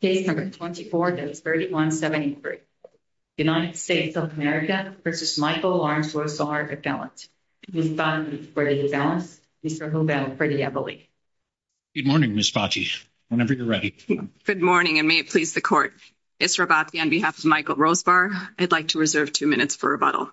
Case No. 24-3173. United States of America v. Michael Lawrence Rosebar Appellant. Ms. Bacci for the appellants. Mr. Hubel for the appellate. Good morning, Ms. Bacci. Whenever you're ready. Good morning, and may it please the Court. Ms. Rabat, on behalf of Michael Rosebar, I'd like to reserve two minutes for rebuttal.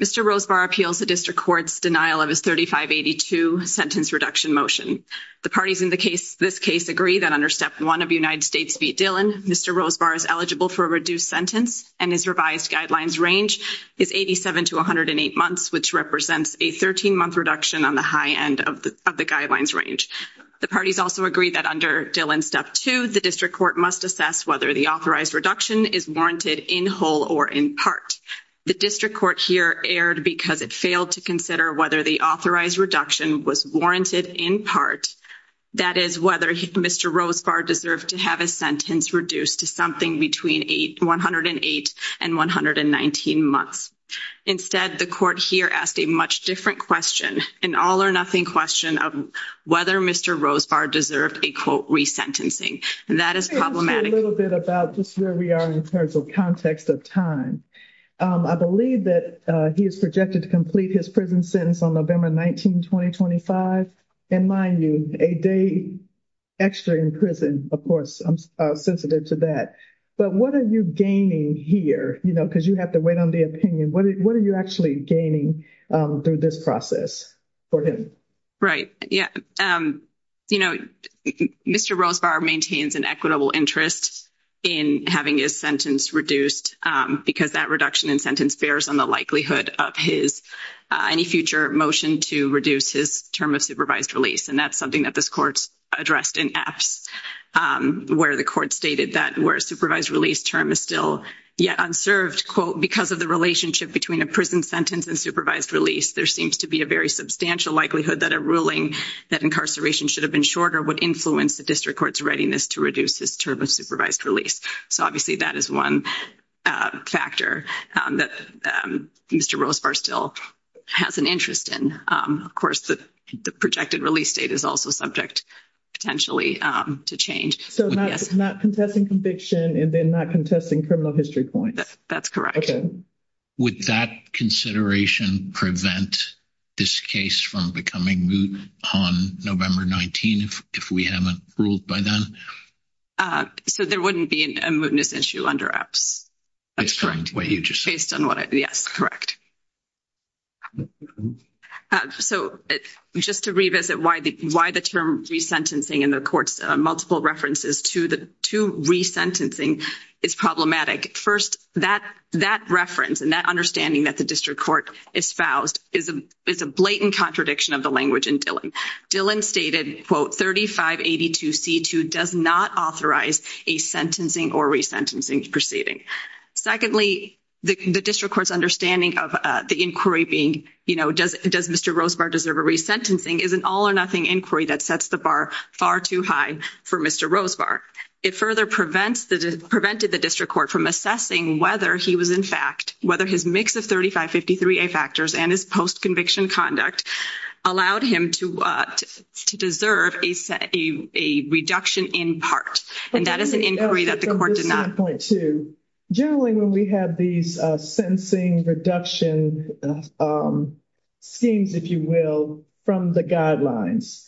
Mr. Rosebar appeals the District Court's denial of his 3582 sentence reduction motion. The parties in this case agree that under Step 1 of United States v. Dillon, Mr. Rosebar is eligible for a reduced sentence and his revised guidelines range is 87 to 108 months, which represents a 13-month reduction on the high end of the guidelines range. The parties also agree that under Dillon Step 2, the District Court must assess whether the authorized reduction is warranted in whole or in part. The District Court here erred because it failed to consider whether the authorized reduction was warranted in part, that is, whether Mr. Rosebar deserved to have his sentence reduced to something between 108 and 119 months. Instead, the Court here asked a much different question, an all-or-nothing question of whether Mr. Rosebar deserved a, quote, resentencing, and that is problematic. Let me just say a little bit about just where we are in terms of context of time. I believe that he is projected to complete his prison sentence on November 19, 2025, and mind you, a day extra in prison, of course, I'm sensitive to that. But what are you gaining here, you know, because you have to wait on the opinion, what are you actually gaining through this process for him? Right, yeah. You know, Mr. Rosebar maintains an equitable interest in having his sentence reduced because that reduction in sentence bears on the likelihood of his, any future motion to reduce his term of supervised release, and that's something that this Court addressed in Epps where the Court stated that where a supervised release term is still yet unserved, quote, because of the relationship between a prison sentence and supervised release, there seems to be a very substantial likelihood that a ruling that incarceration should have would influence the District Court's readiness to reduce his term of supervised release. So, obviously, that is one factor that Mr. Rosebar still has an interest in. Of course, the projected release date is also subject, potentially, to change. So, not contesting conviction and then not contesting criminal history points? That's correct. Would that consideration prevent this case from becoming moot on November 19 if we haven't ruled by then? So, there wouldn't be a mootness issue under Epps? That's correct. Based on what I, yes, correct. So, just to revisit why the term resentencing and the Court's multiple references to resentencing is problematic. First, that reference and that understanding that the District Court espoused is a blatant contradiction of the language in Dillon. Dillon stated, quote, 3582C2 does not authorize a sentencing or resentencing proceeding. Secondly, the District Court's understanding of the inquiry being, you know, does Mr. Rosebar deserve a resentencing is an all-or-nothing inquiry that sets the bar far too high for Mr. Rosebar. It further prevents the, prevented the District Court from assessing whether he was, in fact, whether his mix of 3553A factors and his post-conviction conduct allowed him to deserve a reduction in part. And that is an inquiry that the Court did not. Generally, when we have these sentencing reduction schemes, if you will, from the guidelines,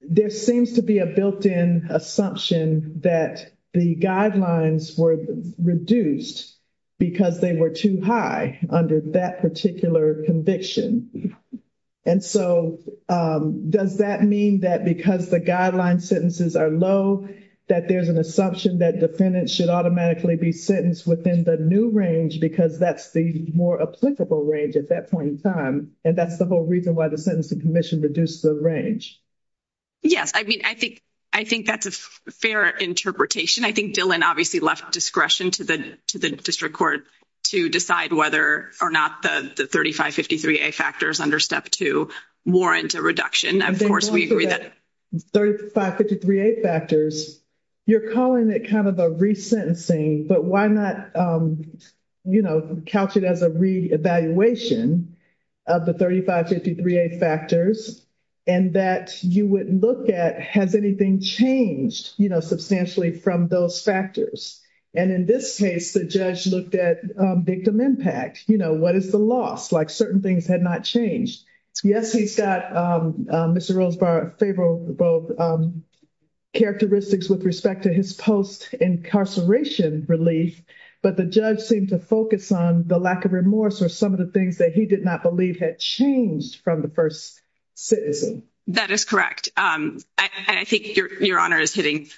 there seems to be a built-in assumption that the guidelines were reduced because they were too high under that particular conviction. And so, does that mean that because the guideline sentences are low that there's an assumption that defendants should automatically be sentenced within the new range because that's the more applicable range at that point in time, and that's the whole reason why the Sentencing Commission reduced the range? Yes. I mean, I think that's a fair interpretation. I think Dillon obviously left discretion to the District Court to decide whether or not the 3553A factors under Step 2 warrant a reduction. Of course, we agree that… And then going to the 3553A factors, you're calling it kind of a resentencing, but why not, you know, couch it as a re-evaluation of the 3553A factors and that you would look at, has anything changed, you know, substantially from those factors? And in this case, the judge looked at victim impact, you know, what is the loss, like certain things had not changed. Yes, he's got, Mr. Rosebar, favorable characteristics with respect to his post-incarceration relief, but the judge seemed to focus on the lack of remorse or some of the things that he did not believe had changed from the first sentencing. That is correct. I think your Honor is hitting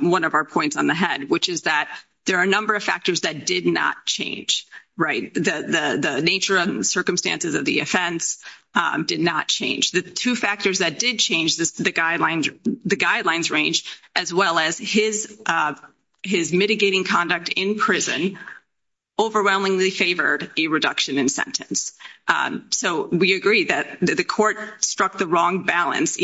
one of our points on the head, which is that there are a number of factors that did not change, right? The nature and circumstances of the offense did not change. The two factors that did change the guidelines range, as well as his mitigating conduct in prison, overwhelmingly favored a reduction in sentence. So, we agree that the court struck the wrong balance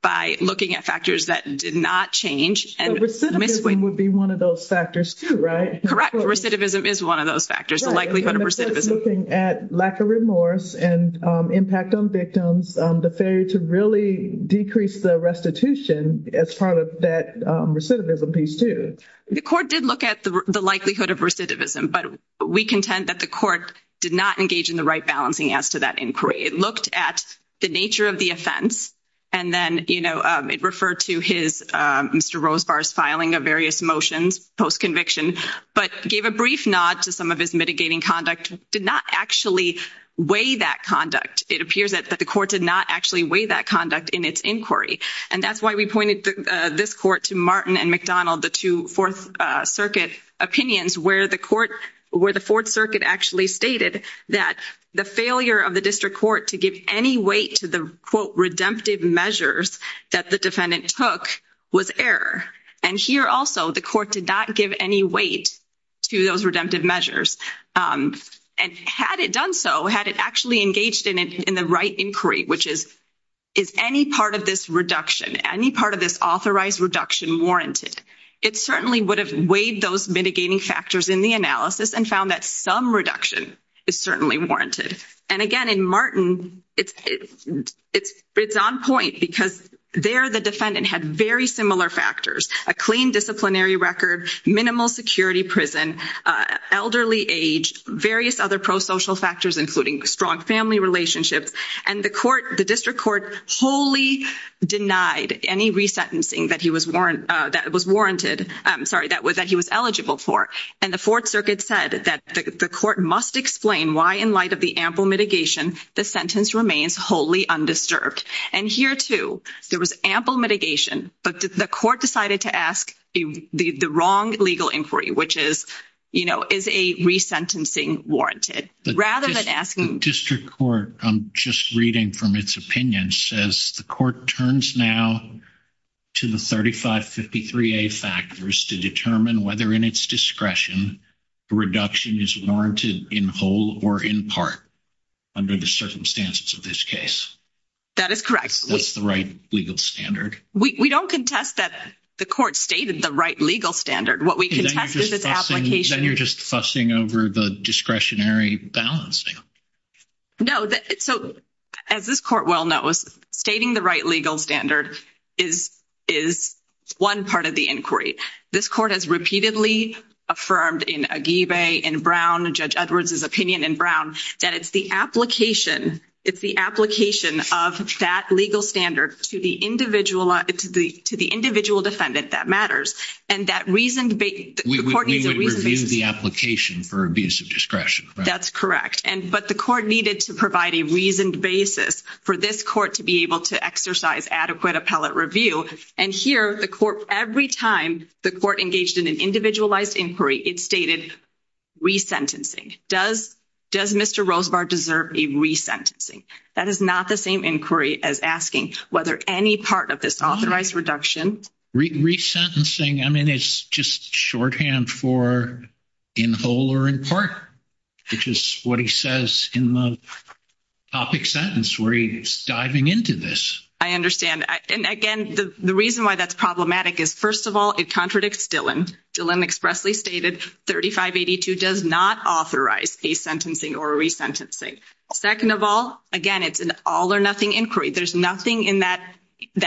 by looking at factors that did not change. Recidivism would be one of those factors, too, right? Correct. Recidivism is one of those factors, the likelihood of recidivism. Looking at lack of remorse and impact on victims, the failure to really decrease the restitution as part of that recidivism piece, too. The court did look at the likelihood of recidivism, but we contend that the court did not engage in the right balancing as to that inquiry. It looked at the nature of the offense, and then it referred to Mr. Rosebar's filing of various motions post-conviction, but gave a brief nod to some of his mitigating conduct, did not actually weigh that conduct. It appears that the court did not actually weigh that conduct in its inquiry, and that's why we pointed this court to Martin and McDonald, the two Fourth Circuit opinions, where the court, where the Fourth Circuit actually stated that the failure of the district court to give any weight to the, quote, redemptive measures that the defendant took was error. And here also, the court did not give any weight to those redemptive measures. And had it done so, had it actually engaged in the right inquiry, which is, is any part of this reduction, any part of this authorized reduction warranted, it certainly would have weighed those mitigating factors in the analysis and found that some reduction is certainly warranted. And again, in Martin, it's on point because there the defendant had very similar factors, a clean disciplinary record, minimal security prison, elderly age, various other pro-social factors, including strong family relationships, and the court, the district court, wholly denied any resentencing that he was warranted, that was warranted, sorry, that he was eligible for. And the Fourth Circuit said that the court must explain why, in light of the ample mitigation, the sentence remains wholly undisturbed. And here, too, there was ample mitigation, but the court decided to ask the wrong legal inquiry, which is, you know, is a resentencing warranted, rather than asking. The district court, I'm just reading from its opinion, says the court turns now to the 3553A factors to determine whether, in its discretion, the reduction is warranted in whole or in part under the circumstances of this case. That is correct. That's the right legal standard. We don't contest that the court stated the right legal standard. What we contest is its application. Then you're just fussing over the discretionary balancing. No, so as this court well knows, stating the right legal standard is one part of the inquiry. This court has repeatedly affirmed in Aguibe, in Brown, Judge Edwards' opinion in Brown, that it's the application, it's the application of that legal standard to the individual, to the individual defendant that matters. And that reason, the court needs a but the court needed to provide a reasoned basis for this court to be able to exercise adequate appellate review. And here, the court, every time the court engaged in an individualized inquiry, it stated resentencing. Does Mr. Rosebar deserve a resentencing? That is not the same inquiry as asking whether any part of this authorized reduction. Resentencing, I mean, it's just shorthand for in whole or in part, which is what he says in the topic sentence where he's diving into this. I understand. And again, the reason why that's problematic is, first of all, it contradicts Dillon. Dillon expressly stated 3582 does not authorize a sentencing or resentencing. Second of all, again, it's an all or nothing inquiry. There's nothing in that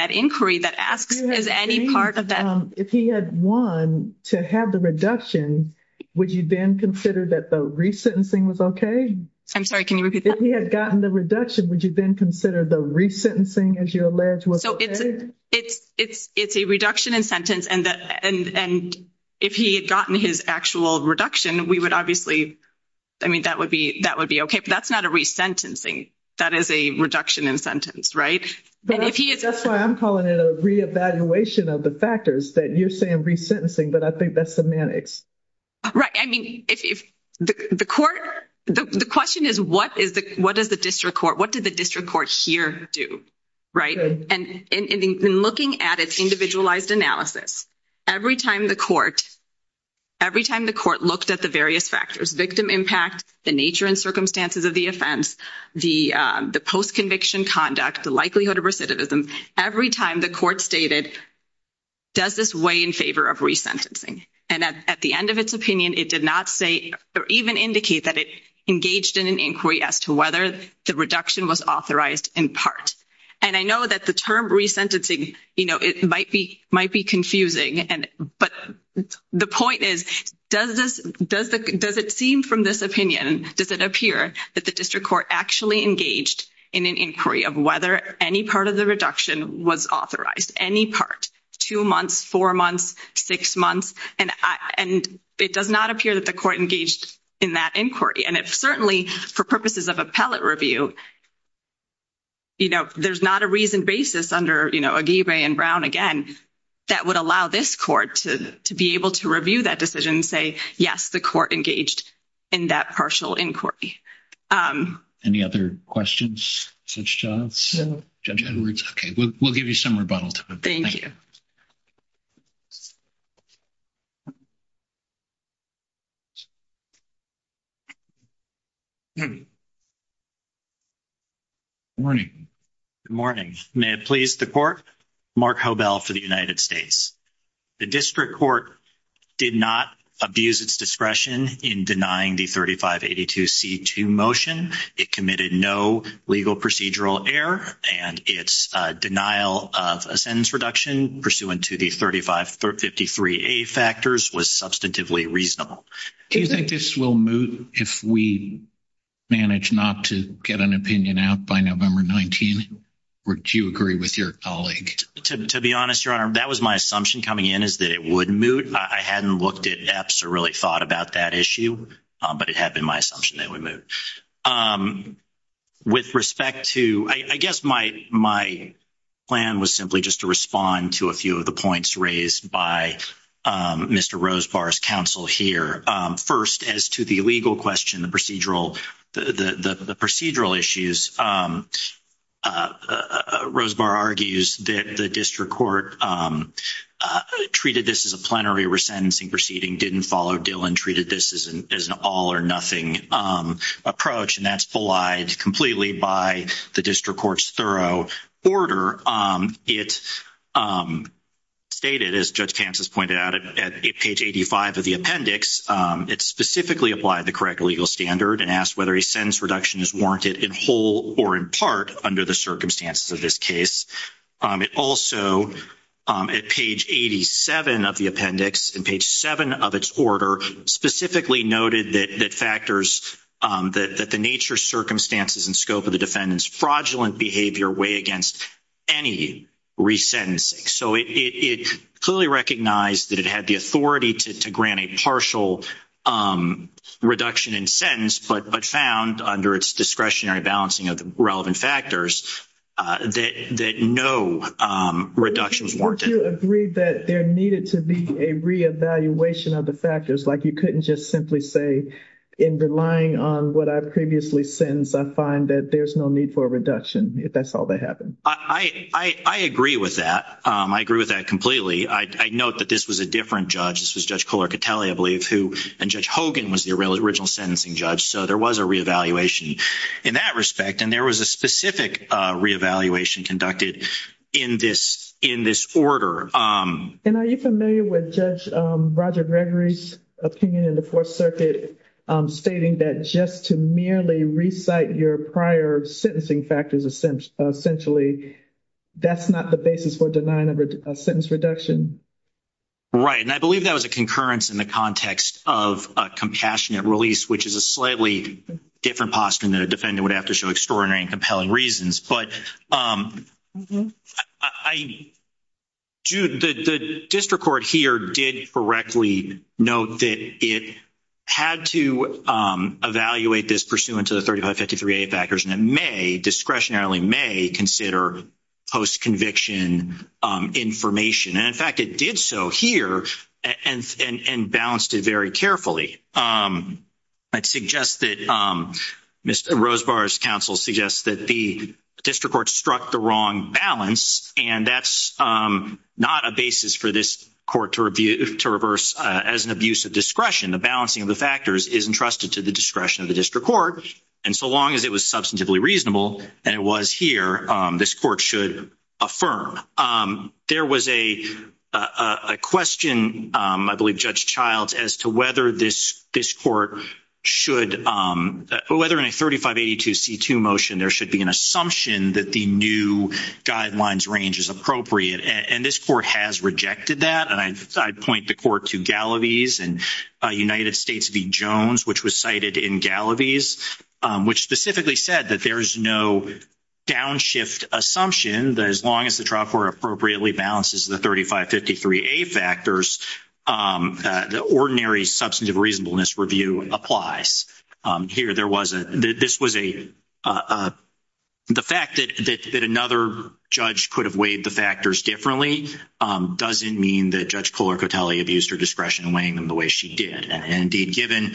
inquiry that is any part of that. If he had won to have the reduction, would you then consider that the resentencing was okay? I'm sorry, can you repeat that? If he had gotten the reduction, would you then consider the resentencing, as you allege, was okay? It's a reduction in sentence and if he had gotten his actual reduction, we would obviously, I mean, that would be okay. But that's not a resentencing. That is a reduction in sentence, right? That's why I'm calling it a reevaluation of the factors that you're saying resentencing, but I think that's semantics. Right. I mean, if the court, the question is what is the, what does the district court, what did the district court here do, right? And in looking at its individualized analysis, every time the court, every time the court looked at the various factors, victim impact, the nature and circumstances of the offense, the post-conviction conduct, the likelihood of every time the court stated, does this weigh in favor of resentencing? And at the end of its opinion, it did not say or even indicate that it engaged in an inquiry as to whether the reduction was authorized in part. And I know that the term resentencing, you know, it might be, might be confusing and, but the point is, does this, does the, does it seem from this opinion, does it appear that the district court actually engaged in an inquiry of whether any part of the reduction was authorized, any part, two months, four months, six months? And I, and it does not appear that the court engaged in that inquiry. And if certainly for purposes of appellate review, you know, there's not a reason basis under, you know, Aguirre and Brown, again, that would allow this court to be able to review that decision and say, yes, the court engaged in that partial inquiry. Any other questions? Judge Edwards? Okay, we'll give you some rebuttal. Thank you. Morning. Good morning. May it please the court. Mark Hobel for the United States. The district court did not abuse its discretion in denying the 3582C2 motion. It committed no legal procedural error and its denial of a sentence reduction pursuant to the 3553A factors was substantively reasonable. Do you think this will move if we manage not to get an opinion out by November 19? Or do you agree with your colleague? To be honest, your honor, that was my assumption coming in is that it would move. I hadn't looked at EPS or really thought about that issue, but it had been my assumption that we moved. With respect to, I guess my plan was simply just to respond to a few of the points raised by Mr. Rosebar's counsel here. First, as to the legal question, the procedural, the procedural issues, Mr. Rosebar argues that the district court treated this as a plenary resentencing proceeding, didn't follow Dillon, treated this as an all-or-nothing approach, and that's belied completely by the district court's thorough order. It stated, as Judge Kansas pointed out at page 85 of the appendix, it specifically applied the correct legal standard and asked whether a sentence reduction is warranted in whole or in part under the circumstances of this case. It also, at page 87 of the appendix, in page 7 of its order, specifically noted that factors, that the nature, circumstances, and scope of the defendant's fraudulent behavior weigh against any resentencing. So it clearly recognized that it had the authority to grant a partial reduction in sentence, but found, under its discretionary balancing of the relevant factors, that no reductions were warranted. Do you agree that there needed to be a re-evaluation of the factors, like you couldn't just simply say, in relying on what I previously sentenced, I find that there's no need for a reduction, if that's all that happened? I agree with that. I agree with that completely. I note that this was a different judge. This was Judge Hogan was the original sentencing judge, so there was a re-evaluation in that respect, and there was a specific re-evaluation conducted in this order. And are you familiar with Judge Roger Gregory's opinion in the Fourth Circuit, stating that just to merely recite your prior sentencing factors essentially, that's not the basis for denying a sentence reduction? Right. And I believe that was a concurrence in the context of a compassionate release, which is a slightly different posture than a defendant would have to show extraordinary and compelling reasons. But the district court here did correctly note that it had to evaluate this pursuant to the 3553A factors, and it may, discretionarily may, consider post-conviction information. And in fact, it did so here and balanced it very carefully. I'd suggest that Mr. Rosebar's counsel suggests that the district court struck the wrong balance, and that's not a basis for this court to reverse as an abuse of discretion. The balancing of the factors is entrusted to the discretion of the district court, and so long as it was substantively reasonable, and it was here, this court should affirm. There was a question, I believe, Judge Childs, as to whether this court should, whether in a 3582C2 motion, there should be an assumption that the new guidelines range is appropriate. And this court has rejected that, and I'd point the court to Galloway's and United States v. Jones, which was cited in Galloway's, which specifically said that there's no downshift assumption that as long as the trial court appropriately balances the 3553A factors, the ordinary substantive reasonableness review applies. Here, there was a, this was a, the fact that another judge could have weighed the factors differently doesn't mean that Judge did. And indeed, given,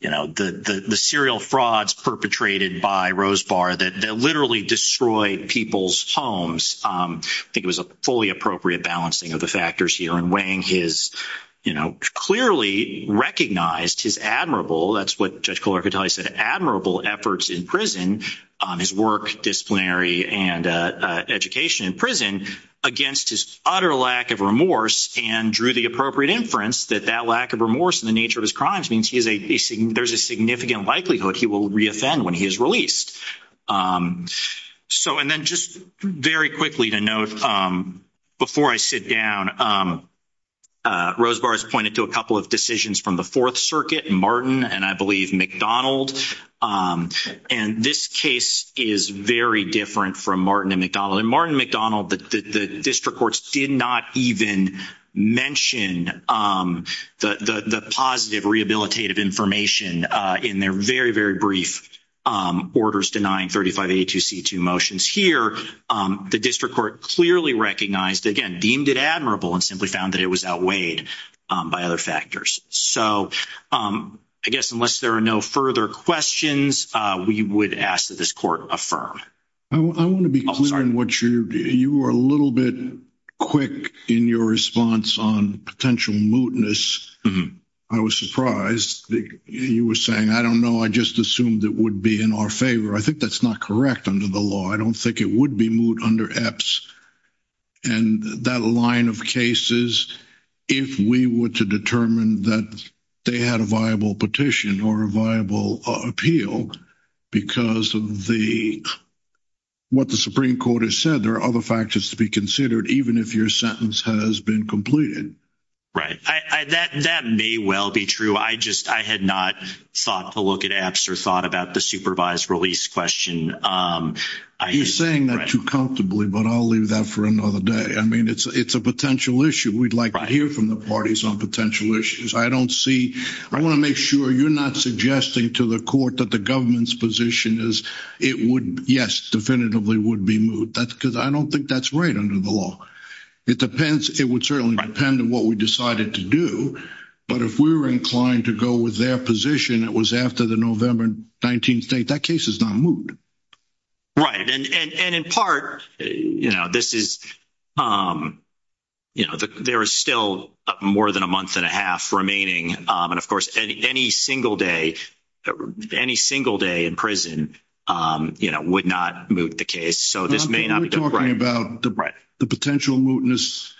you know, the serial frauds perpetrated by Rosebar that literally destroyed people's homes, I think it was a fully appropriate balancing of the factors here, and weighing his, you know, clearly recognized his admirable, that's what Judge Colarcoatelli said, admirable efforts in prison, his work disciplinary and education in prison against his utter lack of and drew the appropriate inference that that lack of remorse and the nature of his crimes means he is a, there's a significant likelihood he will re-offend when he is released. So, and then just very quickly to note, before I sit down, Rosebar has pointed to a couple of decisions from the Fourth Circuit, Martin and I believe McDonald, and this case is very different from Martin and McDonald. In Martin and McDonald, the district courts did not even mention the positive rehabilitative information in their very, very brief orders denying 3582C2 motions. Here, the district court clearly recognized, again, deemed it admirable and simply found that it was outweighed by other factors. So, I guess unless there are no further questions, we would ask that this court affirm. I want to be clear in what you, you were a little bit quick in your response on potential mootness. I was surprised that you were saying, I don't know, I just assumed it would be in our favor. I think that's not correct under the law. I don't think it would be moot under EPS, and that line of cases, if we were to determine that they had a viable petition or a viable appeal because of the, what the Supreme Court has said, there are other factors to be considered, even if your sentence has been completed. Right. That may well be true. I just, I had not thought to look at EPS or thought about the supervised release question. You're saying that too comfortably, but I'll leave that for another day. I mean, it's a potential issue. We'd like to hear from the parties on potential issues. I don't see, I want to make sure you're not suggesting to the court that the government's position is, it would, yes, definitively would be moot. That's because I don't think that's right under the law. It depends. It would certainly depend on what we decided to do, but if we were inclined to go with their position, it was after the November 19th date, that case is not moot. Right. And in part, you know, this is, you know, there is still more than a month and a half remaining. And of course, any single day, any single day in prison, you know, would not moot the case. So this may not be talking about the potential mootness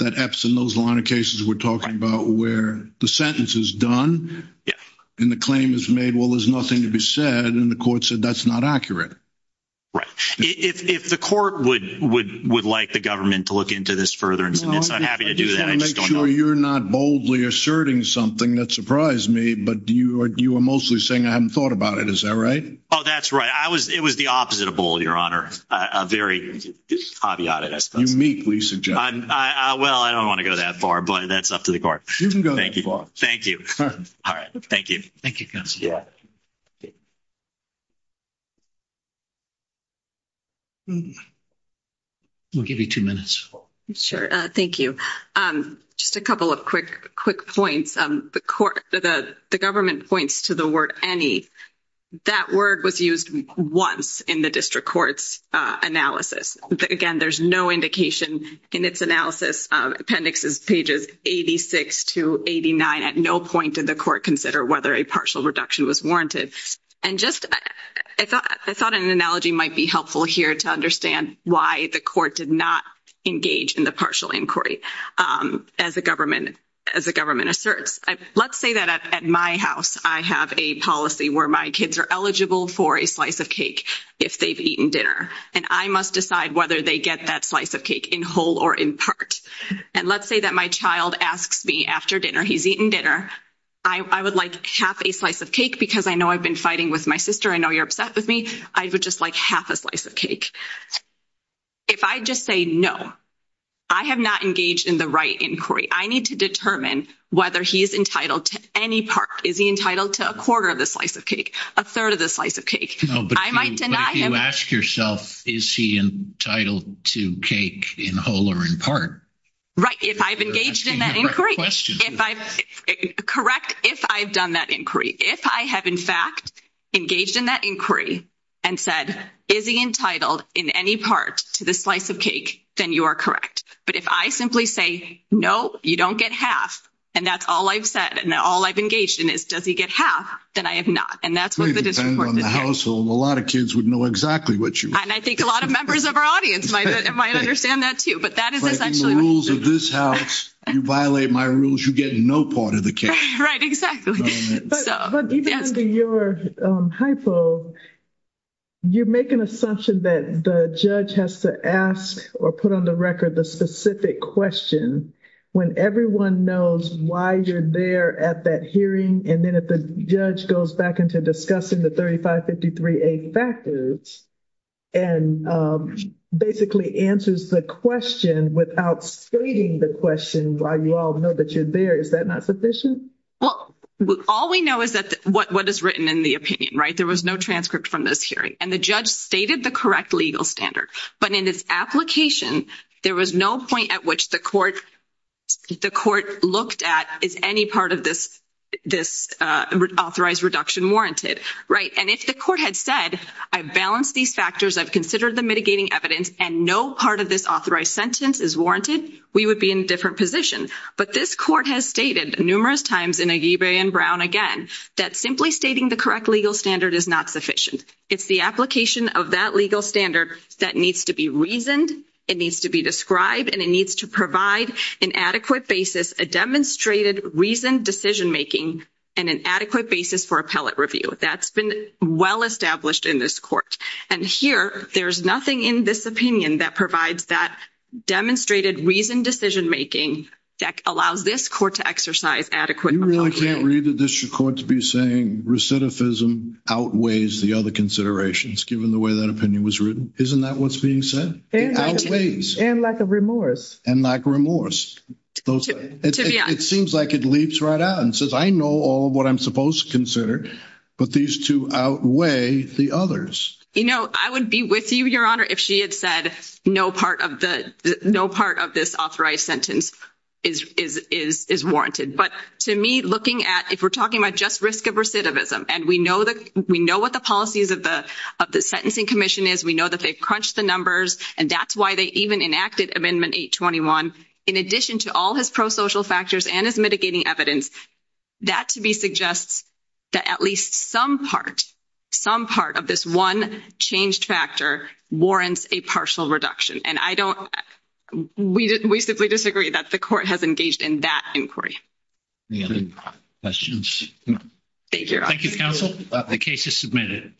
that EPS and those line of cases we're talking about where the sentence is done and the claim is made, well, there's nothing to be said. And the court said that's not accurate. Right. If the court would like the government to look into this further, I'm happy to do that. I'm just going to make sure you're not boldly asserting something that surprised me, but you are, you are mostly saying I haven't thought about it. Is that right? Oh, that's right. I was, it was the opposite of bold, your honor. A very caveat, I suppose. Well, I don't want to go that far, but that's up to the court. You can go that far. Thank you. All right. Thank you. Thank you. Yeah. We'll give you two minutes. Sure. Thank you. Just a couple of quick, quick points. The court, the government points to the word any. That word was used once in the district courts analysis. Again, there's no indication in its analysis. Appendix is pages 86 to 89. At no point did the court consider whether a partial reduction was warranted. And just, I thought an analogy might be helpful here to understand why the court did not engage in the partial inquiry. As the government, as the government asserts, let's say that at my house, I have a policy where my kids are eligible for a slice of cake if they've eaten dinner. And I must decide whether they get that slice of cake in whole or in part. And let's say that my child asks me after dinner, he's eaten dinner. I would like half a slice of cake because I know I've been fighting with my sister. I know you're upset with me. I would just like half a slice of cake. If I just say no, I have not engaged in the right inquiry. I need to determine whether he's entitled to any part. Is he entitled to a quarter of the slice of cake? A third of the slice of cake? I might deny him. But if you ask yourself, is he entitled to cake in whole or in part? Right. If I've engaged in that inquiry. If I'm correct, if I've done that inquiry, if I have, in fact, engaged in that inquiry and said, is he entitled in any part to the slice of cake? Then you are correct. But if I simply say, no, you don't get half. And that's all I've said. And all I've engaged in is, does he get half? Then I have not. And that's what it is in the household. A lot of kids would know exactly what you and I think a lot of members of our audience might understand that, too. But that is the rules of this house. You violate my rules, you get no part of the cake. Right, exactly. But even under your hypo, you make an assumption that the judge has to ask or put on the record the specific question when everyone knows why you're there at that hearing. And then if the judge goes back into discussing the 3553A factors and basically answers the question without stating the question why you all know that you're there, is that not sufficient? Well, all we know is what is written in the opinion, right? There was no transcript from this hearing. And the judge stated the correct legal standard. But in its application, there was no point at which the court looked at, is any part of this authorized reduction warranted? Right? And if the court had said, I've balanced these factors, I've considered the mitigating evidence, and no part of this authorized sentence is warranted, we would be in a different position. But this court has stated numerous times in Agibre and Brown again, that simply stating the correct legal standard is not sufficient. It's the application of that legal standard that needs to be reasoned, it needs to be described, and it needs to provide an adequate basis, a demonstrated reasoned decision making, and an adequate basis for appellate review. That's well established in this court. And here, there's nothing in this opinion that provides that demonstrated reasoned decision making that allows this court to exercise adequate... You really can't read the district court to be saying recidivism outweighs the other considerations given the way that opinion was written? Isn't that what's being said? It outweighs. And lack of remorse. And lack of remorse. It seems like it leaps right out and says, I know all of what I'm supposed to consider, but these two outweigh the others. You know, I would be with you, Your Honor, if she had said no part of this authorized sentence is warranted. But to me, looking at... If we're talking about just risk of recidivism, and we know what the policies of the sentencing commission is, we know that they crunched the numbers, and that's why they even enacted Amendment 821, in addition to all his prosocial factors and his mitigating evidence, that to me suggests that at least some part, some part of this one changed factor warrants a partial reduction. And I don't... We simply disagree that the court has engaged in that inquiry. Any other questions? Thank you, Your Honor. Thank you, counsel. The case is submitted.